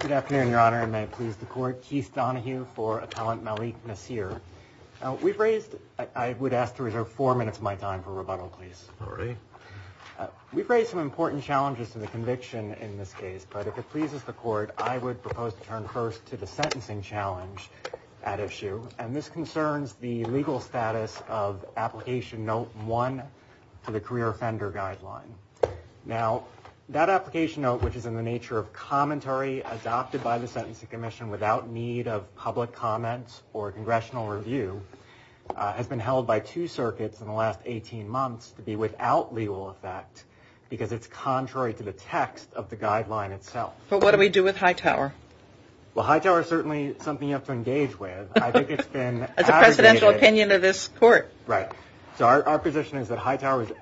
Good afternoon, Your Honor, and may it please the Court. Keith Donahue for Appellant Malik Nasir. We've raised – I would ask to reserve four minutes of my time for rebuttal, please. We've raised some important challenges to the conviction in this case, but if it pleases the Court, I would propose to turn first to the sentencing challenge at issue, and this that application note, which is in the nature of commentary adopted by the Sentencing Commission without need of public comment or congressional review, has been held by two circuits in the last 18 months to be without legal effect because it's contrary to the text of the guideline itself. But what do we do with Hightower? Well, Hightower is certainly something you have to engage with. I think it's been abrogated – It's a presidential opinion of this Court. Right. So our position is that Hightower was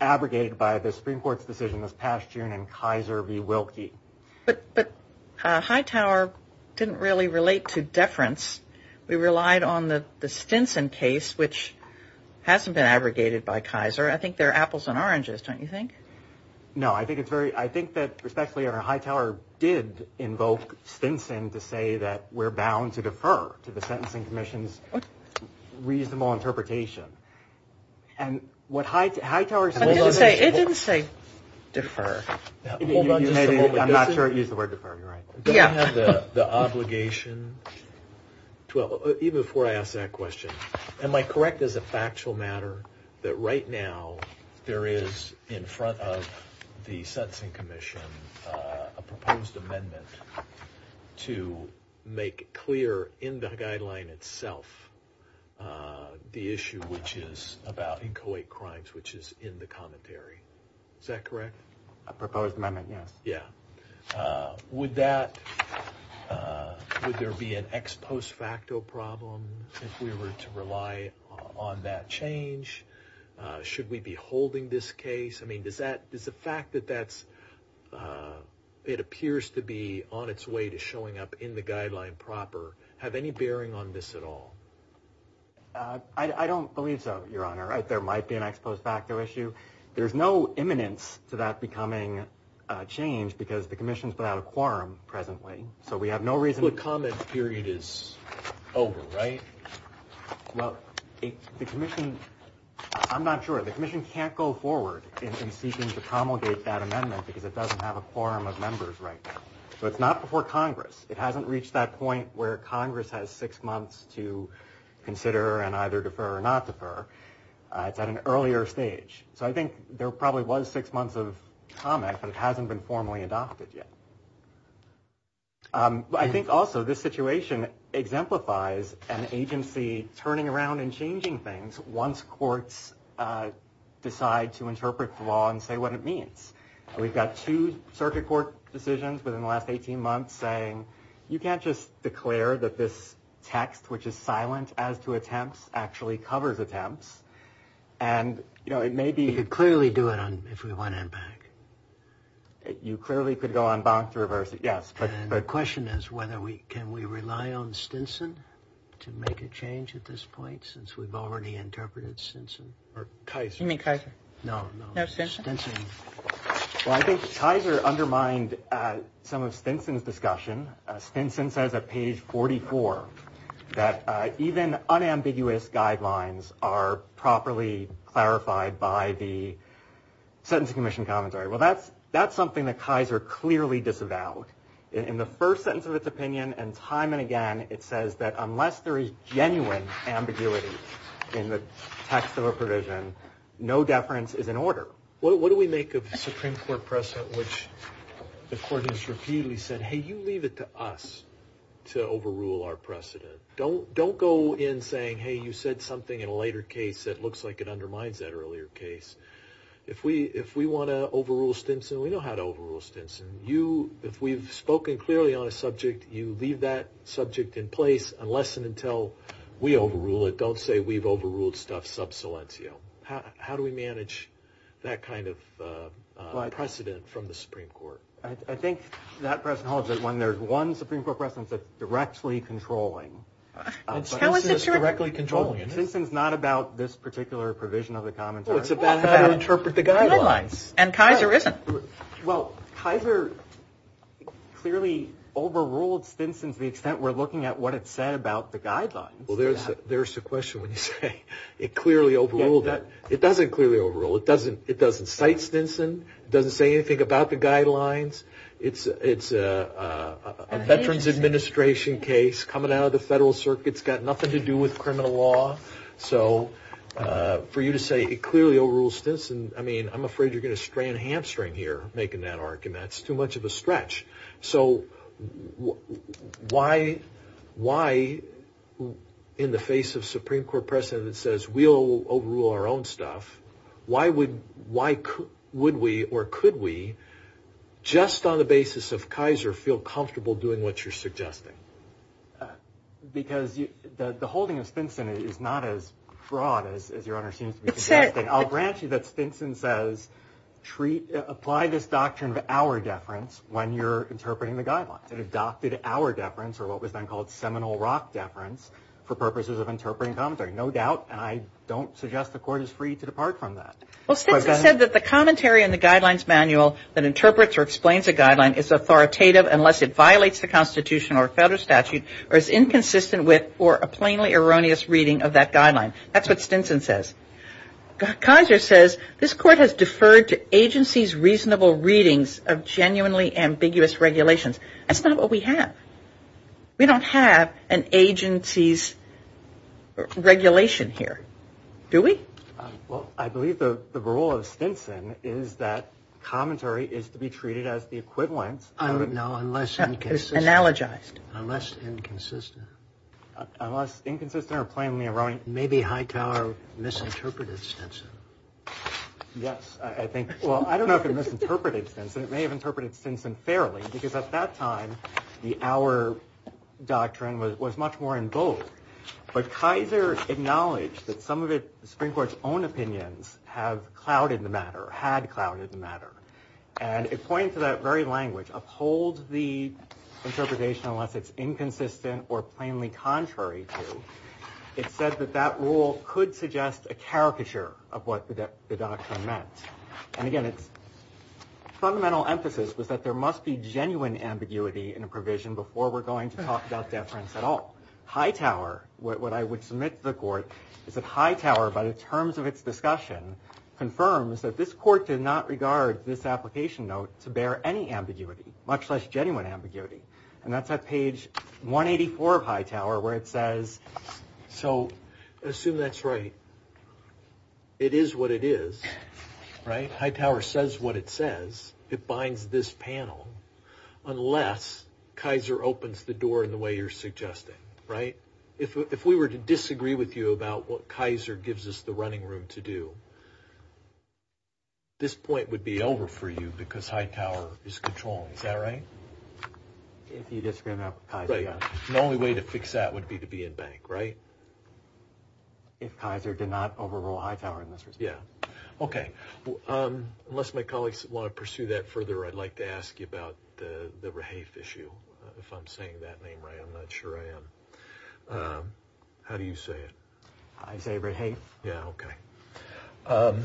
abrogated by the Supreme Court's decision this past June in Kaiser v. Wilkie. But Hightower didn't really relate to deference. We relied on the Stinson case, which hasn't been abrogated by Kaiser. I think they're apples and oranges, don't you think? No, I think it's very – I think that, respectfully, Hightower did invoke Stinson to say that we're bound to defer to the Sentencing Commission's reasonable interpretation. And what Hightower – It didn't say defer. Hold on just a moment. I'm not sure it used the word defer. You're right. Yeah. Don't we have the obligation – even before I ask that question, am I correct as a factual matter that right now there is in front of the Sentencing Commission a proposed amendment to make clear in the guideline itself the issue which is about inchoate crimes, which is in the commentary? Is that correct? A proposed amendment, yes. Yeah. Would that – would there be an ex post facto problem if we were to rely on that change? Should we be holding this case? I mean, does that – does the fact that that's – it appears to be on its way to showing up in the guideline proper have any bearing on this at all? I don't believe so, Your Honor. There might be an ex post facto issue. There's no imminence to that becoming a change because the commission's without a quorum presently. So we have no reason – The comment period is over, right? Well, the commission – I'm not sure. The commission can't go forward in seeking to promulgate that amendment because it doesn't have a quorum of members right now. So it's not before Congress. It hasn't reached that point where Congress has six months to consider and either defer or not defer. It's at an earlier stage. So I think there probably was six months of comment, but it hasn't been formally adopted yet. I think also this situation exemplifies an agency turning around and changing things once courts decide to interpret the law and say what it means. We've got two circuit court decisions within the last 18 months saying you can't just declare that this text which is silent as to attempts actually covers attempts. And it may be – You could clearly do it on – if we went in back. You clearly could go on bonk to reverse it, yes. But the question is whether we – can we rely on Stinson to make a change at this point since we've already interpreted Stinson or Kyser? You mean Kyser? No, no. No Stinson? Well, I think Kyser undermined some of Stinson's discussion. Stinson says at page 44 that even unambiguous guidelines are properly clarified by the Sentencing Commission Commentary. Well, that's something that Kyser clearly disavowed. In the first sentence of its opinion and time and again, it says that unless there is genuine ambiguity in the text of a provision, no deference is in order. What do we make of the Supreme Court precedent which the court has repeatedly said, hey, you leave it to us to overrule our precedent. Don't go in saying, hey, you said something in a later case that looks like it undermines that earlier case. If we want to overrule Stinson, we know how to overrule Stinson. If we've spoken clearly on a subject, you leave that subject in place unless and until we overrule it. Don't say we've overruled stuff sub silencio. How do we manage that kind of precedent from the Supreme Court? I think that precedent holds when there's one Supreme Court precedent that's directly controlling. How is it directly controlling? Stinson's not about this particular provision of the Commentary. No, it's about how to interpret the guidelines. And Kyser isn't. Well, Kyser clearly overruled Stinson to the extent we're looking at what it said about the guidelines. There's the question when you say it clearly overruled that. It doesn't clearly overrule. It doesn't cite Stinson. It doesn't say anything about the guidelines. It's a Veterans Administration case coming out of the Federal Circuit. It's got nothing to do with criminal law. So for you to say it clearly overruled Stinson, I mean, I'm afraid you're going to strand a in the face of Supreme Court precedent that says we'll overrule our own stuff. Why would we or could we, just on the basis of Kyser, feel comfortable doing what you're suggesting? Because the holding of Stinson is not as broad as your Honor seems to be suggesting. I'll grant you that Stinson says, apply this doctrine of our deference when you're interpreting the guidelines. It adopted our deference, or what was then called seminal rock deference, for purposes of interpreting commentary. No doubt, and I don't suggest the Court is free to depart from that. Well, Stinson said that the commentary in the guidelines manual that interprets or explains a guideline is authoritative unless it violates the Constitution or Federal statute or is inconsistent with or a plainly erroneous reading of that guideline. That's what Stinson says. Kyser says this Court has deferred to agencies' reasonable readings of genuinely ambiguous regulations. That's not what we have. We don't have an agency's regulation here. Do we? Well, I believe the rule of Stinson is that commentary is to be treated as the equivalent of... No, unless... It's analogized. Unless inconsistent. Unless inconsistent or plainly erroneous. Maybe Hightower misinterpreted Stinson. Yes, I think. Well, I don't know if it misinterpreted Stinson. It may have interpreted Stinson fairly. Because at that time, the Our Doctrine was much more in bold. But Kyser acknowledged that some of it, the Supreme Court's own opinions, have clouded the matter, had clouded the matter. And it pointed to that very language. Uphold the interpretation unless it's inconsistent or plainly contrary to. It said that that rule could suggest a caricature of what the Fundamental emphasis was that there must be genuine ambiguity in a provision before we're going to talk about deference at all. Hightower, what I would submit to the Court, is that Hightower, by the terms of its discussion, confirms that this Court did not regard this application note to bear any ambiguity, much less genuine ambiguity. And that's at page 184 of Hightower, where it says... So, assume that's right. It is what it is, right? Hightower says what it says. It binds this panel. Unless Kyser opens the door in the way you're suggesting, right? If we were to disagree with you about what Kyser gives us the running room to do, this point would be over for you because Hightower is controlling. Is that right? If you disagree on the application. The only way to fix that would be to be in bank, right? If Kyser did not overrule Hightower in this respect. Yeah. Okay. Unless my colleagues want to pursue that further, I'd like to ask you about the Rahafe issue, if I'm saying that name right. I'm not sure I am. How do you say it? I say Rahafe. Yeah, okay.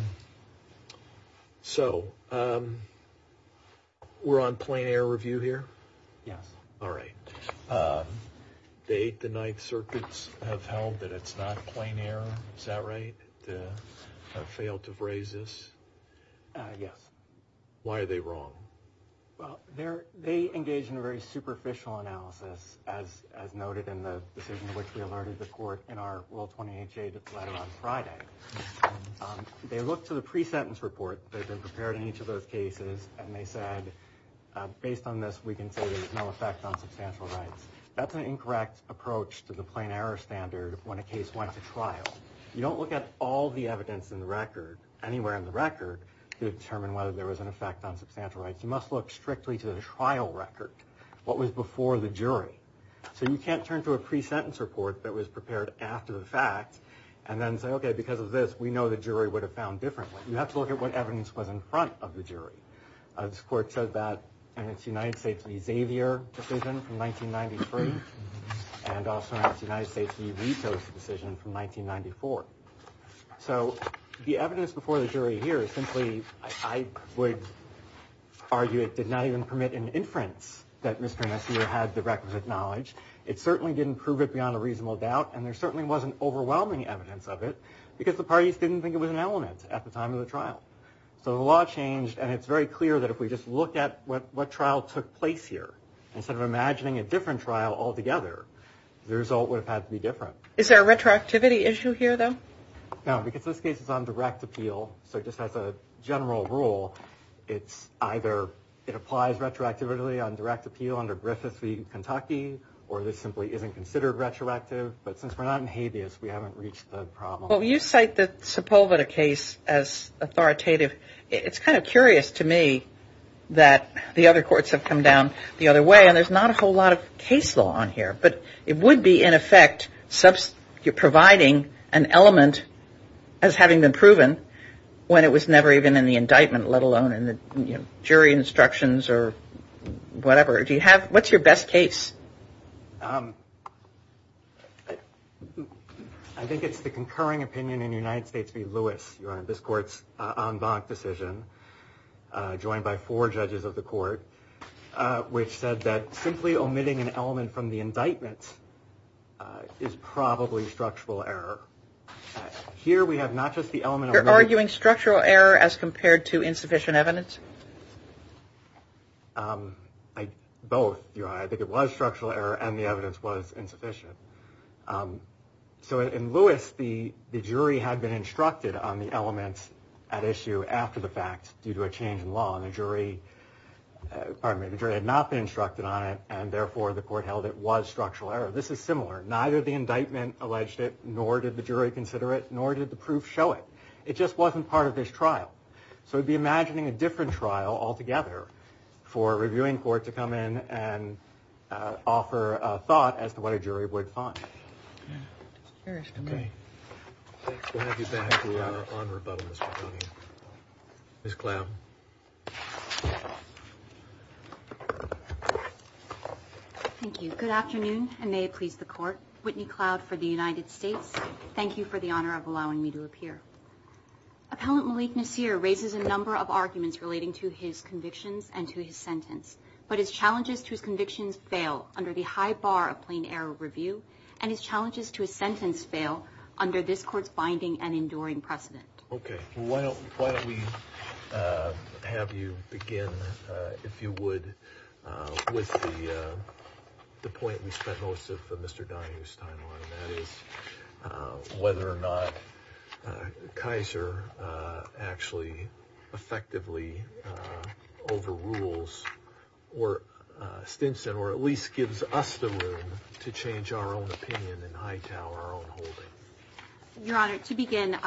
So, we're on plain error review here? Yes. All right. The Eighth and Ninth Circuits have held that it's not plain error. Is that right? They have failed to raise this? Yes. Why are they wrong? Well, they engage in a very superficial analysis, as noted in the decision in which we alerted the court in our Rule 28J letter on Friday. They looked to the pre-sentence report that they said, based on this, we can say there's no effect on substantial rights. That's an incorrect approach to the plain error standard when a case went to trial. You don't look at all the evidence in the record, anywhere in the record, to determine whether there was an effect on substantial rights. You must look strictly to the trial record, what was before the jury. So, you can't turn to a pre-sentence report that was prepared after the fact and then say, okay, because of this, we know the jury would have found differently. You have to look at what evidence was in front of the jury. This court said that in its United States v. Xavier decision from 1993, and also in its United States v. Vito's decision from 1994. So, the evidence before the jury here is simply, I would argue, it did not even permit an inference that Mr. and Mrs. Vito had the requisite knowledge. It certainly didn't prove it beyond a reasonable doubt, and there certainly wasn't overwhelming evidence of it, because the parties didn't think it was an element at the time of the trial. So, the law changed, and it's very clear that if we just look at what trial took place here, instead of imagining a different trial altogether, the result would have had to be different. Is there a retroactivity issue here, though? No, because this case is on direct appeal. So, just as a general rule, it's either, it applies retroactively on direct appeal under Griffith v. Kentucky, or this simply isn't considered retroactive. But since we're not in habeas, we haven't reached the problem. Well, you cite the Sepulveda case as authoritative. It's kind of curious to me that the other courts have come down the other way, and there's not a whole lot of case law on here. But it would be, in effect, providing an element as having been proven when it was never even in the indictment, let alone in the jury instructions or whatever. Do you have, what's your best case? I think it's the concurring opinion in the United States v. Lewis, this court's en banc decision, joined by four judges of the court, which said that simply omitting an element from the indictment is probably structural error. Here, we have not just the element. You're arguing structural error as well. Both, I think it was structural error, and the evidence was insufficient. So, in Lewis, the jury had been instructed on the element at issue after the fact, due to a change in law. And the jury, pardon me, the jury had not been instructed on it, and therefore the court held it was structural error. This is similar. Neither the indictment alleged it, nor did the jury consider it, nor did the proof show it. It just wasn't part of this trial. So, it would be imagining a different trial altogether for a reviewing court to come in and offer a thought as to what a jury would find. Okay. We'll have you back on rebuttal, Ms. McDonough. Ms. Cloud. Thank you. Good afternoon, and may it please the court. Whitney Cloud for the United States. Thank you for the honor of allowing me to appear. Appellant Malik Nasir raises a number of arguments relating to his convictions and to his sentence, but his challenges to his convictions fail under the high bar of plain error review, and his challenges to his sentence fail under this court's binding and enduring precedent. Okay. Well, why don't we have you begin, if you would, with the point we spent most of our time on, whether or not Kaiser actually effectively overrules Stinson, or at least gives us the room to change our own opinion in Hightower, our own holding. Your Honor, to begin,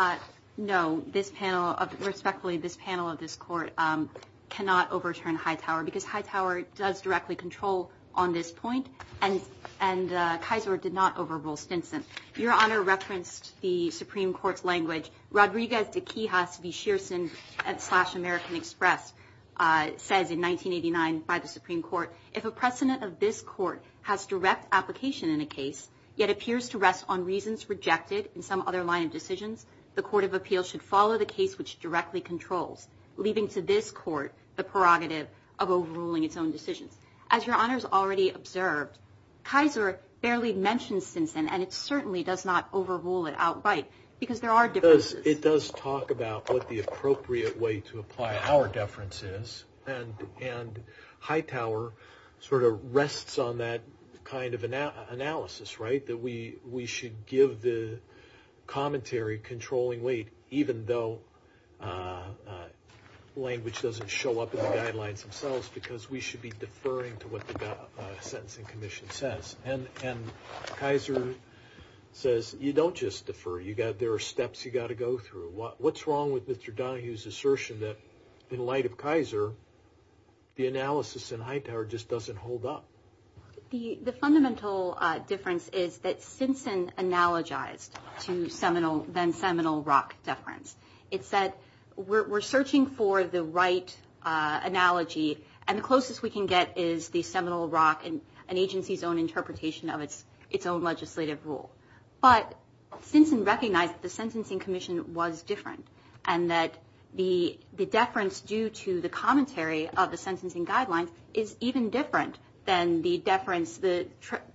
no, this panel, respectfully, this panel of this court cannot overturn Hightower, because Hightower does directly control on this point, and Kaiser did not overrule Stinson. Your Honor referenced the Supreme Court's language. Rodriguez de Quijas v. Shearson slash American Express says in 1989 by the Supreme Court, if a precedent of this court has direct application in a case, yet appears to rest on reasons rejected in some other line of decisions, the Court of Appeals should follow the case which directly controls, leaving to this court the prerogative of overruling its own decisions. As Your Honor's already observed, Kaiser barely mentions Stinson, and it certainly does not overrule it outright, because there are differences. It does talk about what the appropriate way to apply our deference is, and Hightower sort of rests on that kind of analysis, right, that we should give the commentary controlling weight, even though language doesn't show up in the guidelines themselves, because we should be deferring to what the Sentencing Commission says. And Kaiser says, you don't just defer, there are steps you've got to go through. What's wrong with Mr. Donohue's assertion that in light of Kaiser, the analysis in Hightower just doesn't hold up? The fundamental difference is that Stinson analogized to then-seminal Rock deference. It said, we're searching for the right analogy, and the closest we can get is the seminal Rock, an agency's own interpretation of its own legislative rule. But Stinson recognized that the Sentencing Commission was different, and that the deference due to the commentary of the sentencing guidelines is even different than the deference, the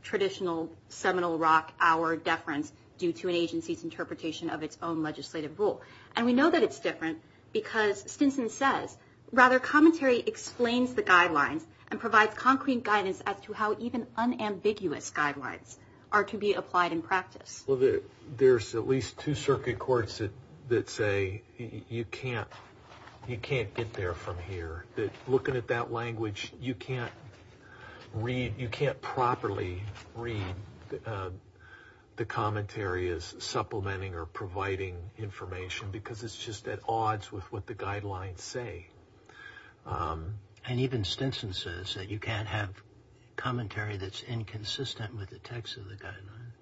traditional seminal Rock hour deference due to an agency's interpretation of its own legislative rule. And we know that it's different because Stinson says, rather, commentary explains the guidelines and provides concrete guidance as to how even unambiguous guidelines are to be applied in practice. Well, there's at least two circuit courts that say, you can't get there from here, that looking at that language, you can't read, you can't properly read the commentary as supplementing or providing information because it's just at odds with what the guidelines say. And even Stinson says that you can't have commentary that's inconsistent with the text of the guidelines.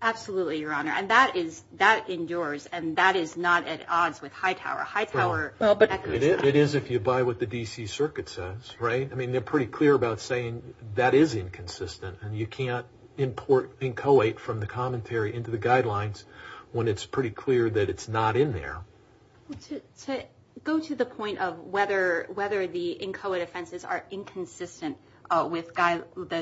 Absolutely, Your Honor, and that is, that endures, and that is not at odds with Hightower. It is if you buy what the D.C. Circuit says, right? I mean, they're pretty clear about saying that is inconsistent, and you can't import inchoate from the commentary into the guidelines when it's pretty clear that it's not in there. To go to the point of whether the inchoate offenses are inconsistent with the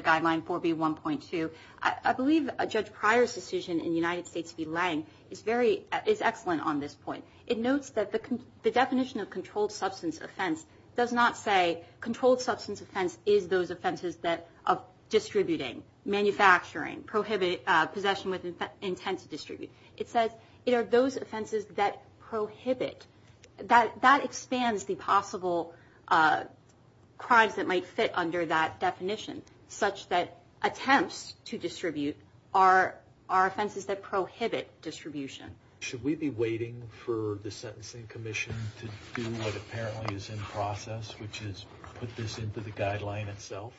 guideline 4B1.2, I believe Judge Pryor's decision in the United States v. Lange is excellent on this point. It notes that the definition of controlled substance offense does not say controlled substance offense is those offenses of distributing, manufacturing, possession with intent to distribute. It says it are those offenses that prohibit. That expands the possible crimes that might fit under that definition, such that attempts to distribute are offenses that prohibit distribution. Should we be waiting for the Sentencing Commission to do what apparently is in process, which is put this into the guideline itself?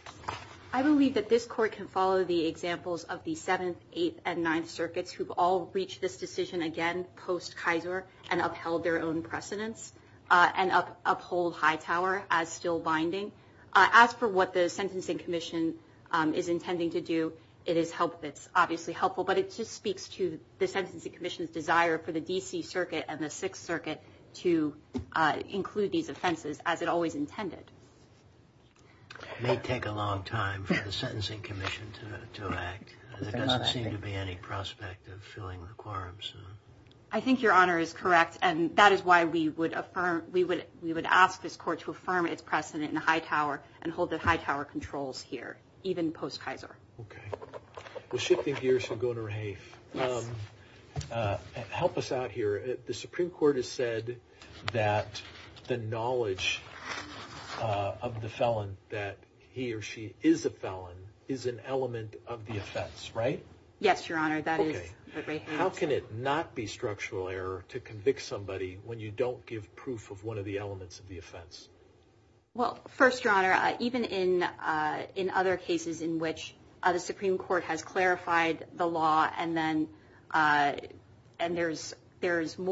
I believe that this Court can follow the examples of the Seventh, Eighth, and Ninth Circuits who've all reached this decision again post-Kaiser and upheld their own precedence and uphold Hightower as still binding. As for what the Sentencing Commission is intending to do, it is obviously helpful, but it just speaks to the Sentencing Commission's desire for the D.C. Circuit and the Sixth Circuit to include these offenses as it always intended. It may take a long time for the Sentencing Commission to act. There doesn't seem to be any prospect of filling the quorum soon. I think Your Honor is correct, and that is why we would ask this Court to affirm its precedent in Hightower and hold the Hightower controls here, even post-Kaiser. Okay. Well, shifting gears to Goner Rehaef, help us out here. The Supreme Court has said that the knowledge of the felon, that he or she is a felon, is an element of the offense, right? Yes, Your Honor, that is what Rehaef said. How can it not be structural error to convict somebody when you don't give proof of one of the elements of the offense? Well, first, Your Honor, even in other cases in which the Supreme Court has clarified the law and there's an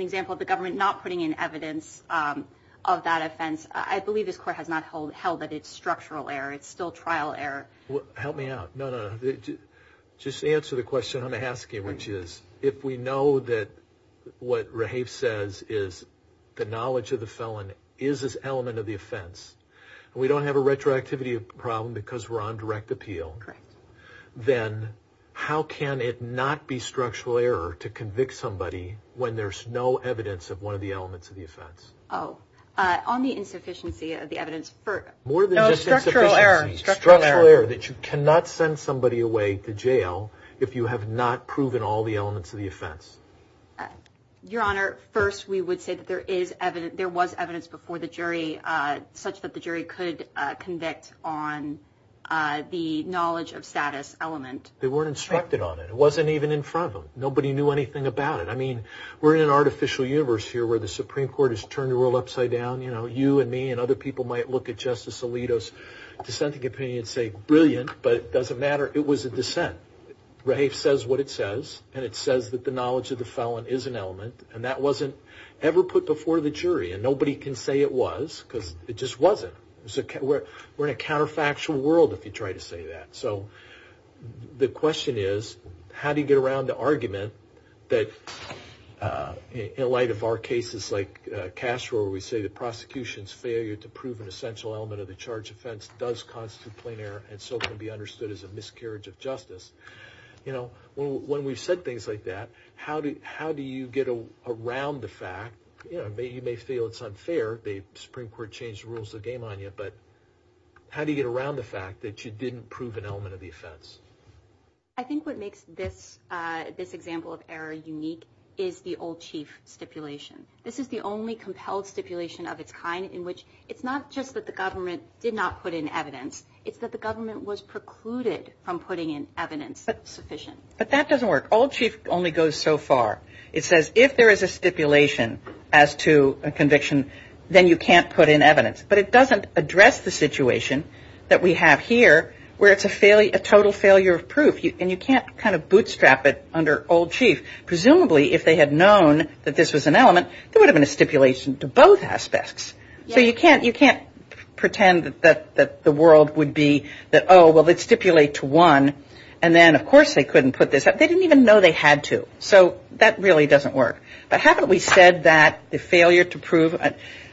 example of the government not putting in evidence of that offense, I believe this Court has not held that it's structural error. It's still trial error. Help me out. No, no, no. Just answer the question I'm asking, which is, if we know that what Rehaef says is the knowledge of the felon is an element of the offense, and we don't have a retroactivity problem because we're on direct appeal, then how can it not be structural error to convict somebody when there's no evidence of one of the elements of the offense? Oh, on the insufficiency of the evidence. No, structural error. Structural error, that you cannot send somebody away to jail if you have not proven all the elements of the offense. Your Honor, first, we would say that there was evidence before the jury such that the jury could convict on the knowledge of status element. They weren't instructed on it. It wasn't even in front of them. Nobody knew anything about it. I mean, we're in an artificial universe here where the Supreme Court has turned the world upside down. You know, you and me and other people might look at Justice Alito's dissenting opinion and say, brilliant, but it doesn't matter. It was a dissent. Rehaef says what it says, and it says that the knowledge of the felon is an element, and that wasn't ever put before the jury, and nobody can say it was because it just wasn't. We're in a counterfactual world if you try to say that. So the question is, how do you get around the argument that in light of our cases like Castro where we say the prosecution's failure to prove an essential element of the charge offense does constitute plain error and so can be understood as a miscarriage of justice, you know, when we've said things like that, how do you get around the fact, you know, you may feel it's unfair, the Supreme Court changed the rules of the game on you, but how do you get around the fact that you didn't prove an element of the offense? I think what makes this example of error unique is the old chief stipulation. This is the only compelled stipulation of its kind in which it's not just that the government did not put in evidence, it's that the government was precluded from putting in evidence sufficient. But that doesn't work. Old chief only goes so far. It says if there is a stipulation as to a conviction, then you can't put in evidence. But it doesn't address the situation that we have here where it's a total failure of proof, and you can't kind of bootstrap it under old chief. Presumably if they had known that this was an element, there would have been a stipulation to both aspects. So you can't pretend that the world would be that, oh, well, let's stipulate to one, and then of course they couldn't put this up. They didn't even know they had to. So that really doesn't work. But haven't we said that the failure to prove,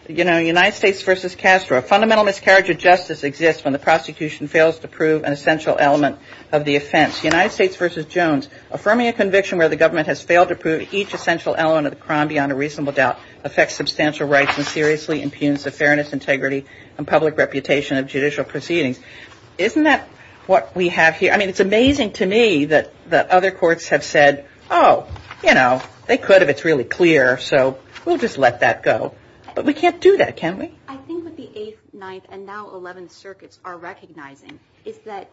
you know, United States v. Castro, a fundamental miscarriage of justice exists when the prosecution fails to prove an essential element of the offense. United States v. Jones, affirming a conviction where the government has failed to prove each essential element of the crime beyond a reasonable doubt affects substantial rights and seriously impugns the fairness, integrity, and public reputation of judicial proceedings. Isn't that what we have here? I mean, it's amazing to me that the other courts have said, oh, you know, they could if it's really clear. So we'll just let that go. But we can't do that, can we? I think what the Eighth, Ninth, and now Eleventh Circuits are recognizing is that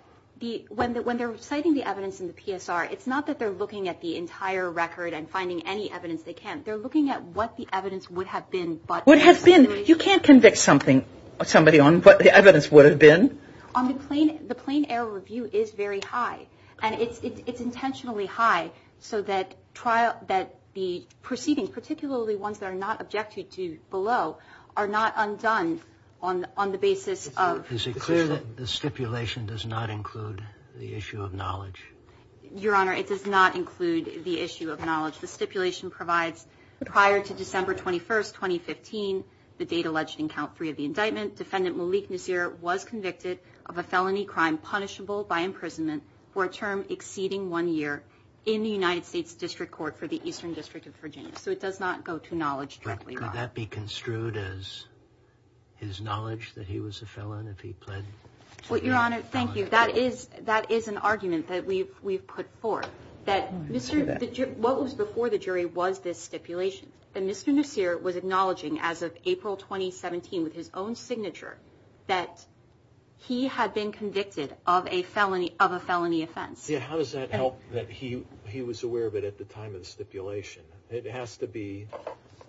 when they're citing the evidence in the PSR, it's not that they're looking at the entire record and finding any evidence they can. They're looking at what the evidence would have been. Would have been? You can't convict somebody on what the evidence would have been. The plain error review is very high. And it's intentionally high so that the proceedings, particularly ones that are not objected to below, are not undone on the basis of. Is it clear that the stipulation does not include the issue of knowledge? Your Honor, it does not include the issue of knowledge. The stipulation provides prior to December 21st, 2015, the date alleged in count three of the indictment, Defendant Malik Nasir was convicted of a felony crime punishable by imprisonment for a term exceeding one year in the United States District Court for the Eastern District of Virginia. So it does not go to knowledge directly. But could that be construed as his knowledge that he was a felon if he pled guilty? Well, Your Honor, thank you. That is an argument that we've put forth. What was before the jury was this stipulation. And Mr. Nasir was acknowledging as of April 2017 with his own signature that he had been convicted of a felony offense. How does that help that he was aware of it at the time of the stipulation? It has to be, I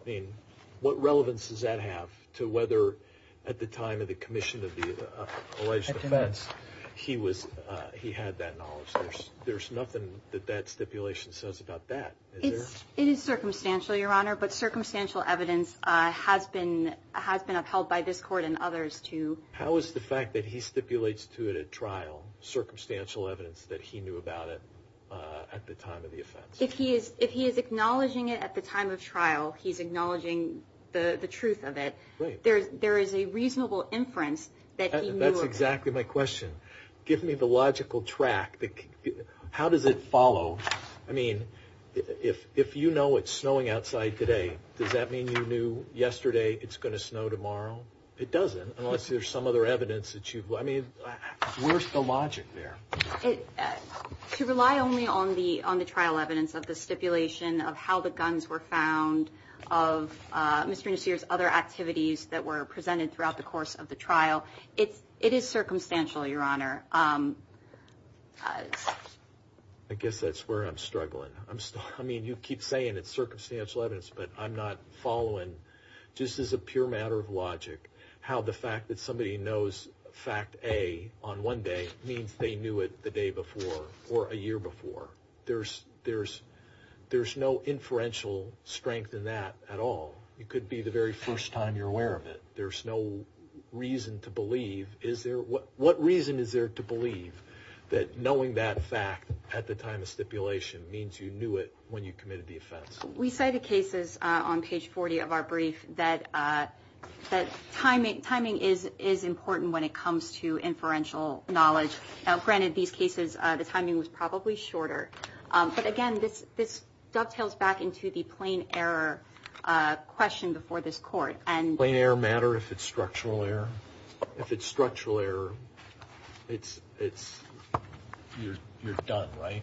mean, what relevance does that have to whether at the time of the commission of the alleged offense he had that knowledge? There's nothing that that stipulation says about that. It is circumstantial, Your Honor, but circumstantial evidence has been upheld by this court and others too. How is the fact that he stipulates to it at trial circumstantial evidence that he knew about it at the time of the offense? If he is acknowledging it at the time of trial, he's acknowledging the truth of it. There is a reasonable inference that he knew of it. That's exactly my question. Give me the logical track. How does it follow? I mean, if you know it's snowing outside today, does that mean you knew yesterday it's going to snow tomorrow? It doesn't unless there's some other evidence that you've, I mean, where's the logic there? To rely only on the trial evidence of the stipulation of how the guns were found, of Mr. Nasir's other activities that were presented throughout the course of the trial. It is circumstantial, Your Honor. I guess that's where I'm struggling. I mean, you keep saying it's circumstantial evidence, but I'm not following, just as a pure matter of logic, how the fact that somebody knows fact A on one day means they knew it the day before or a year before. There's no inferential strength in that at all. It could be the very first time you're aware of it. There's no reason to believe. What reason is there to believe that knowing that fact at the time of stipulation means you knew it when you committed the offense? We say the cases on page 40 of our brief that timing is important when it comes to inferential knowledge. Granted, these cases, the timing was probably shorter. But, again, this dovetails back into the plain error question before this court. Does plain error matter if it's structural error? If it's structural error, you're done, right?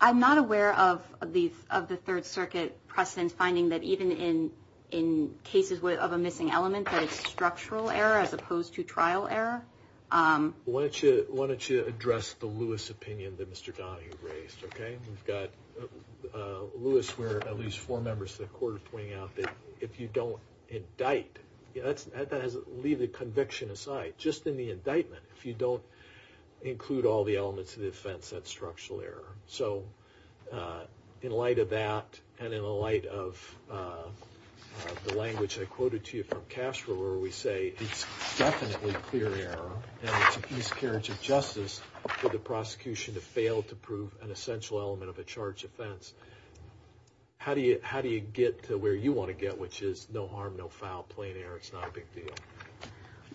I'm not aware of the Third Circuit precedent finding that even in cases of a missing element that it's structural error as opposed to trial error. Why don't you address the Lewis opinion that Mr. Donahue raised, okay? We've got Lewis where at least four members of the court are pointing out that if you don't indict, leave the conviction aside. Just in the indictment, if you don't include all the elements of the offense, that's structural error. So in light of that and in the light of the language I quoted to you from Castro where we say it's definitely clear error and it's a miscarriage of justice for the prosecution to fail to prove an essential element of a charged offense. How do you get to where you want to get, which is no harm, no foul, plain error, it's not a big deal?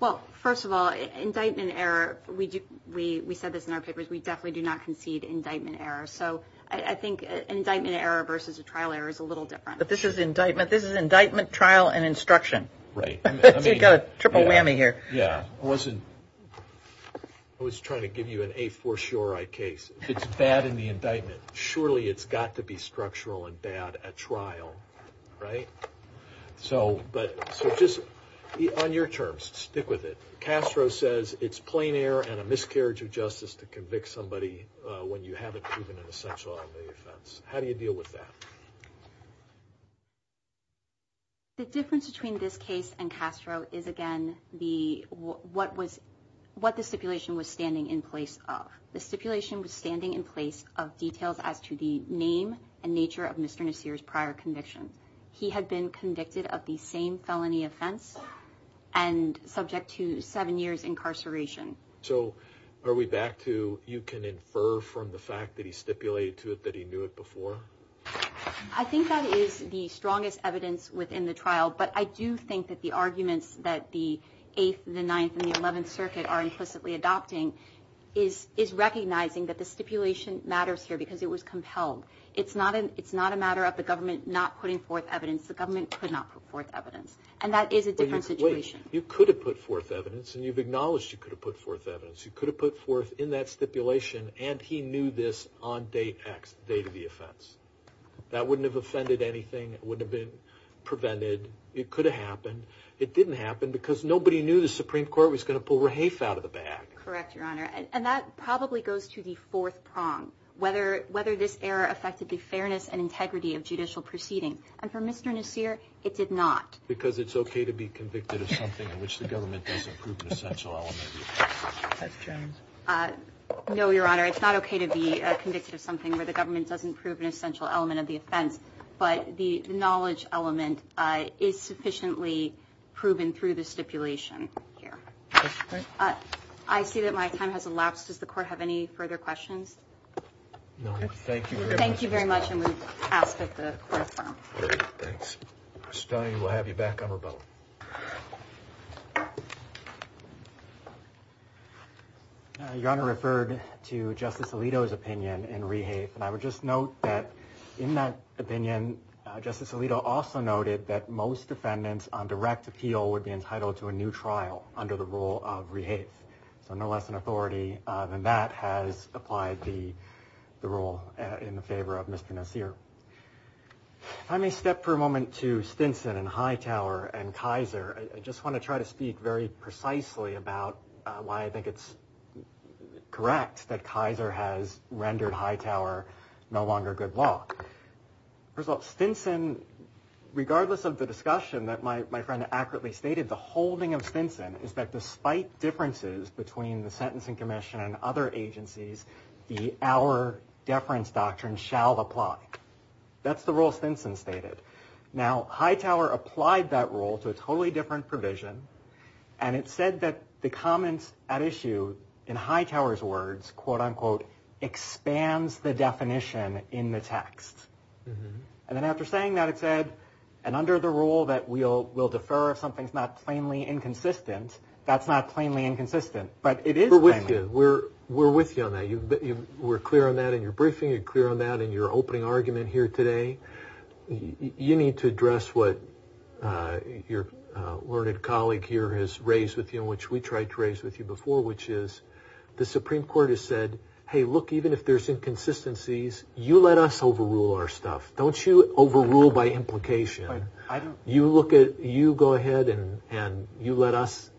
Well, first of all, indictment error, we said this in our papers, we definitely do not concede indictment error. So I think indictment error versus a trial error is a little different. But this is indictment, this is indictment, trial, and instruction. Right. You've got a triple whammy here. Yeah. I wasn't, I was trying to give you an a-for-sure-I case. If it's bad in the indictment, surely it's got to be structural and bad at trial, right? So just on your terms, stick with it. Castro says it's plain error and a miscarriage of justice to convict somebody when you haven't proven an essential element of the offense. How do you deal with that? The difference between this case and Castro is, again, what the stipulation was standing in place of. The stipulation was standing in place of details as to the name and nature of Mr. Nasir's prior conviction. He had been convicted of the same felony offense and subject to seven years incarceration. So are we back to you can infer from the fact that he stipulated to it that he knew it before? I think that is the strongest evidence within the trial. But I do think that the arguments that the Eighth, the Ninth, and the Eleventh Circuit are implicitly adopting is recognizing that the stipulation matters here because it was compelled. It's not a matter of the government not putting forth evidence. The government could not put forth evidence. And that is a different situation. You could have put forth evidence, and you've acknowledged you could have put forth evidence. You could have put forth in that stipulation, and he knew this on day X, the date of the offense. That wouldn't have offended anything. It wouldn't have been prevented. It could have happened. It didn't happen because nobody knew the Supreme Court was going to pull Rahafe out of the bag. Correct, Your Honor. And that probably goes to the fourth prong, whether this error affected the fairness and integrity of judicial proceeding. And for Mr. Nasir, it did not. Because it's okay to be convicted of something in which the government doesn't prove an essential element of the offense. No, Your Honor, it's not okay to be convicted of something where the government doesn't prove an essential element of the offense, but the knowledge element is sufficiently proven through the stipulation here. I see that my time has elapsed. Does the Court have any further questions? No. Thank you very much. Thank you very much, and we've passed at the fourth prong. Great. Thanks. Ms. Stoney, we'll have you back on rebuttal. Your Honor referred to Justice Alito's opinion in Rahafe, and I would just note that in that opinion, Justice Alito also noted that most defendants on direct appeal would be entitled to a new trial under the rule of Rahafe. So no less an authority than that has applied the rule in favor of Mr. Nasir. If I may step for a moment to Stinson and Hightower and Kaiser, I just want to try to speak very precisely about why I think it's correct that Kaiser has rendered Hightower no longer good law. First of all, Stinson, regardless of the discussion that my friend accurately stated, the holding of Stinson is that despite differences between the Sentencing Commission and other agencies, the Our Deference Doctrine shall apply. That's the rule Stinson stated. Now, Hightower applied that rule to a totally different provision, and it said that the comments at issue, in Hightower's words, quote-unquote, expands the definition in the text. And then after saying that, it said, and under the rule that we'll defer if something's not plainly inconsistent, that's not plainly inconsistent. But it is plainly inconsistent. We're with you. We're with you on that. We're clear on that in your briefing. You're clear on that in your opening argument here today. You need to address what your learned colleague here has raised with you, and which we tried to raise with you before, which is the Supreme Court has said, hey, look, even if there's inconsistencies, you let us overrule our stuff. Don't you overrule by implication. You go ahead and you let us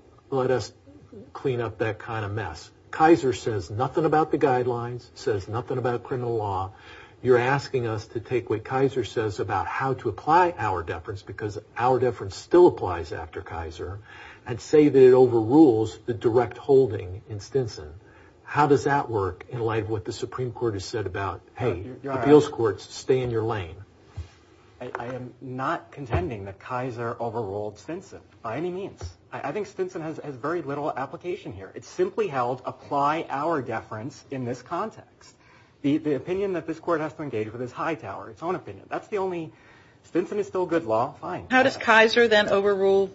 clean up that kind of mess. Kaiser says nothing about the guidelines, says nothing about criminal law. You're asking us to take what Kaiser says about how to apply our deference, because our deference still applies after Kaiser, and say that it overrules the direct holding in Stinson. How does that work in light of what the Supreme Court has said about, hey, appeals courts, stay in your lane? I am not contending that Kaiser overruled Stinson by any means. I think Stinson has very little application here. It simply held apply our deference in this context. The opinion that this court has to engage with is Hightower, its own opinion. That's the only, Stinson is still good law, fine. How does Kaiser then overrule,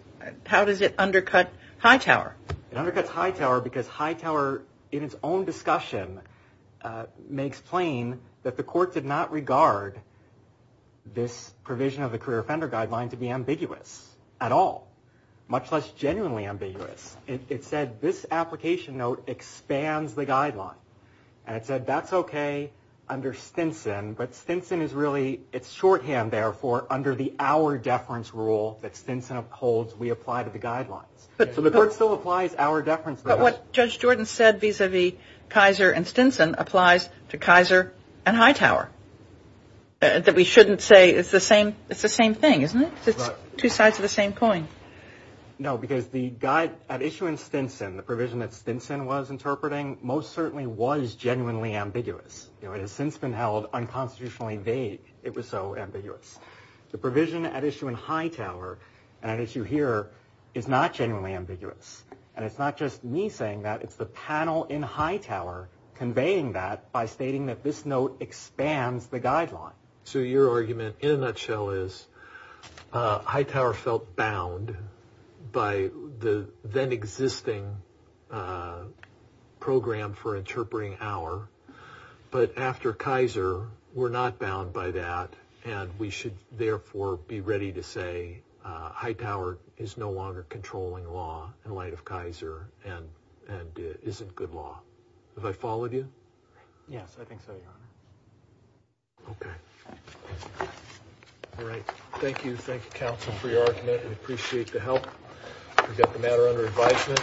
how does it undercut Hightower? It undercuts Hightower because Hightower, in its own discussion, makes plain that the court did not regard this provision of the career offender guideline to be ambiguous at all, much less genuinely ambiguous. It said this application note expands the guideline. And it said that's okay under Stinson, but Stinson is really, it's shorthand, therefore, under the our deference rule that Stinson holds we apply to the guidelines. So the court still applies our deference. But what Judge Jordan said vis-a-vis Kaiser and Stinson applies to Kaiser and Hightower, that we shouldn't say it's the same thing, isn't it? It's two sides of the same coin. No, because the issue in Stinson, the provision that Stinson was interpreting, most certainly was genuinely ambiguous. It has since been held unconstitutionally vague. It was so ambiguous. The provision at issue in Hightower and at issue here is not genuinely ambiguous. And it's not just me saying that. It's the panel in Hightower conveying that by stating that this note expands the guideline. So your argument in a nutshell is Hightower felt bound by the then existing program for interpreting our. But after Kaiser, we're not bound by that. And we should, therefore, be ready to say Hightower is no longer controlling law in light of Kaiser and isn't good law. Have I followed you? Yes, I think so, Your Honor. Okay. All right. Thank you. Thank you, counsel, for your argument. We appreciate the help. We've got the matter under advisement.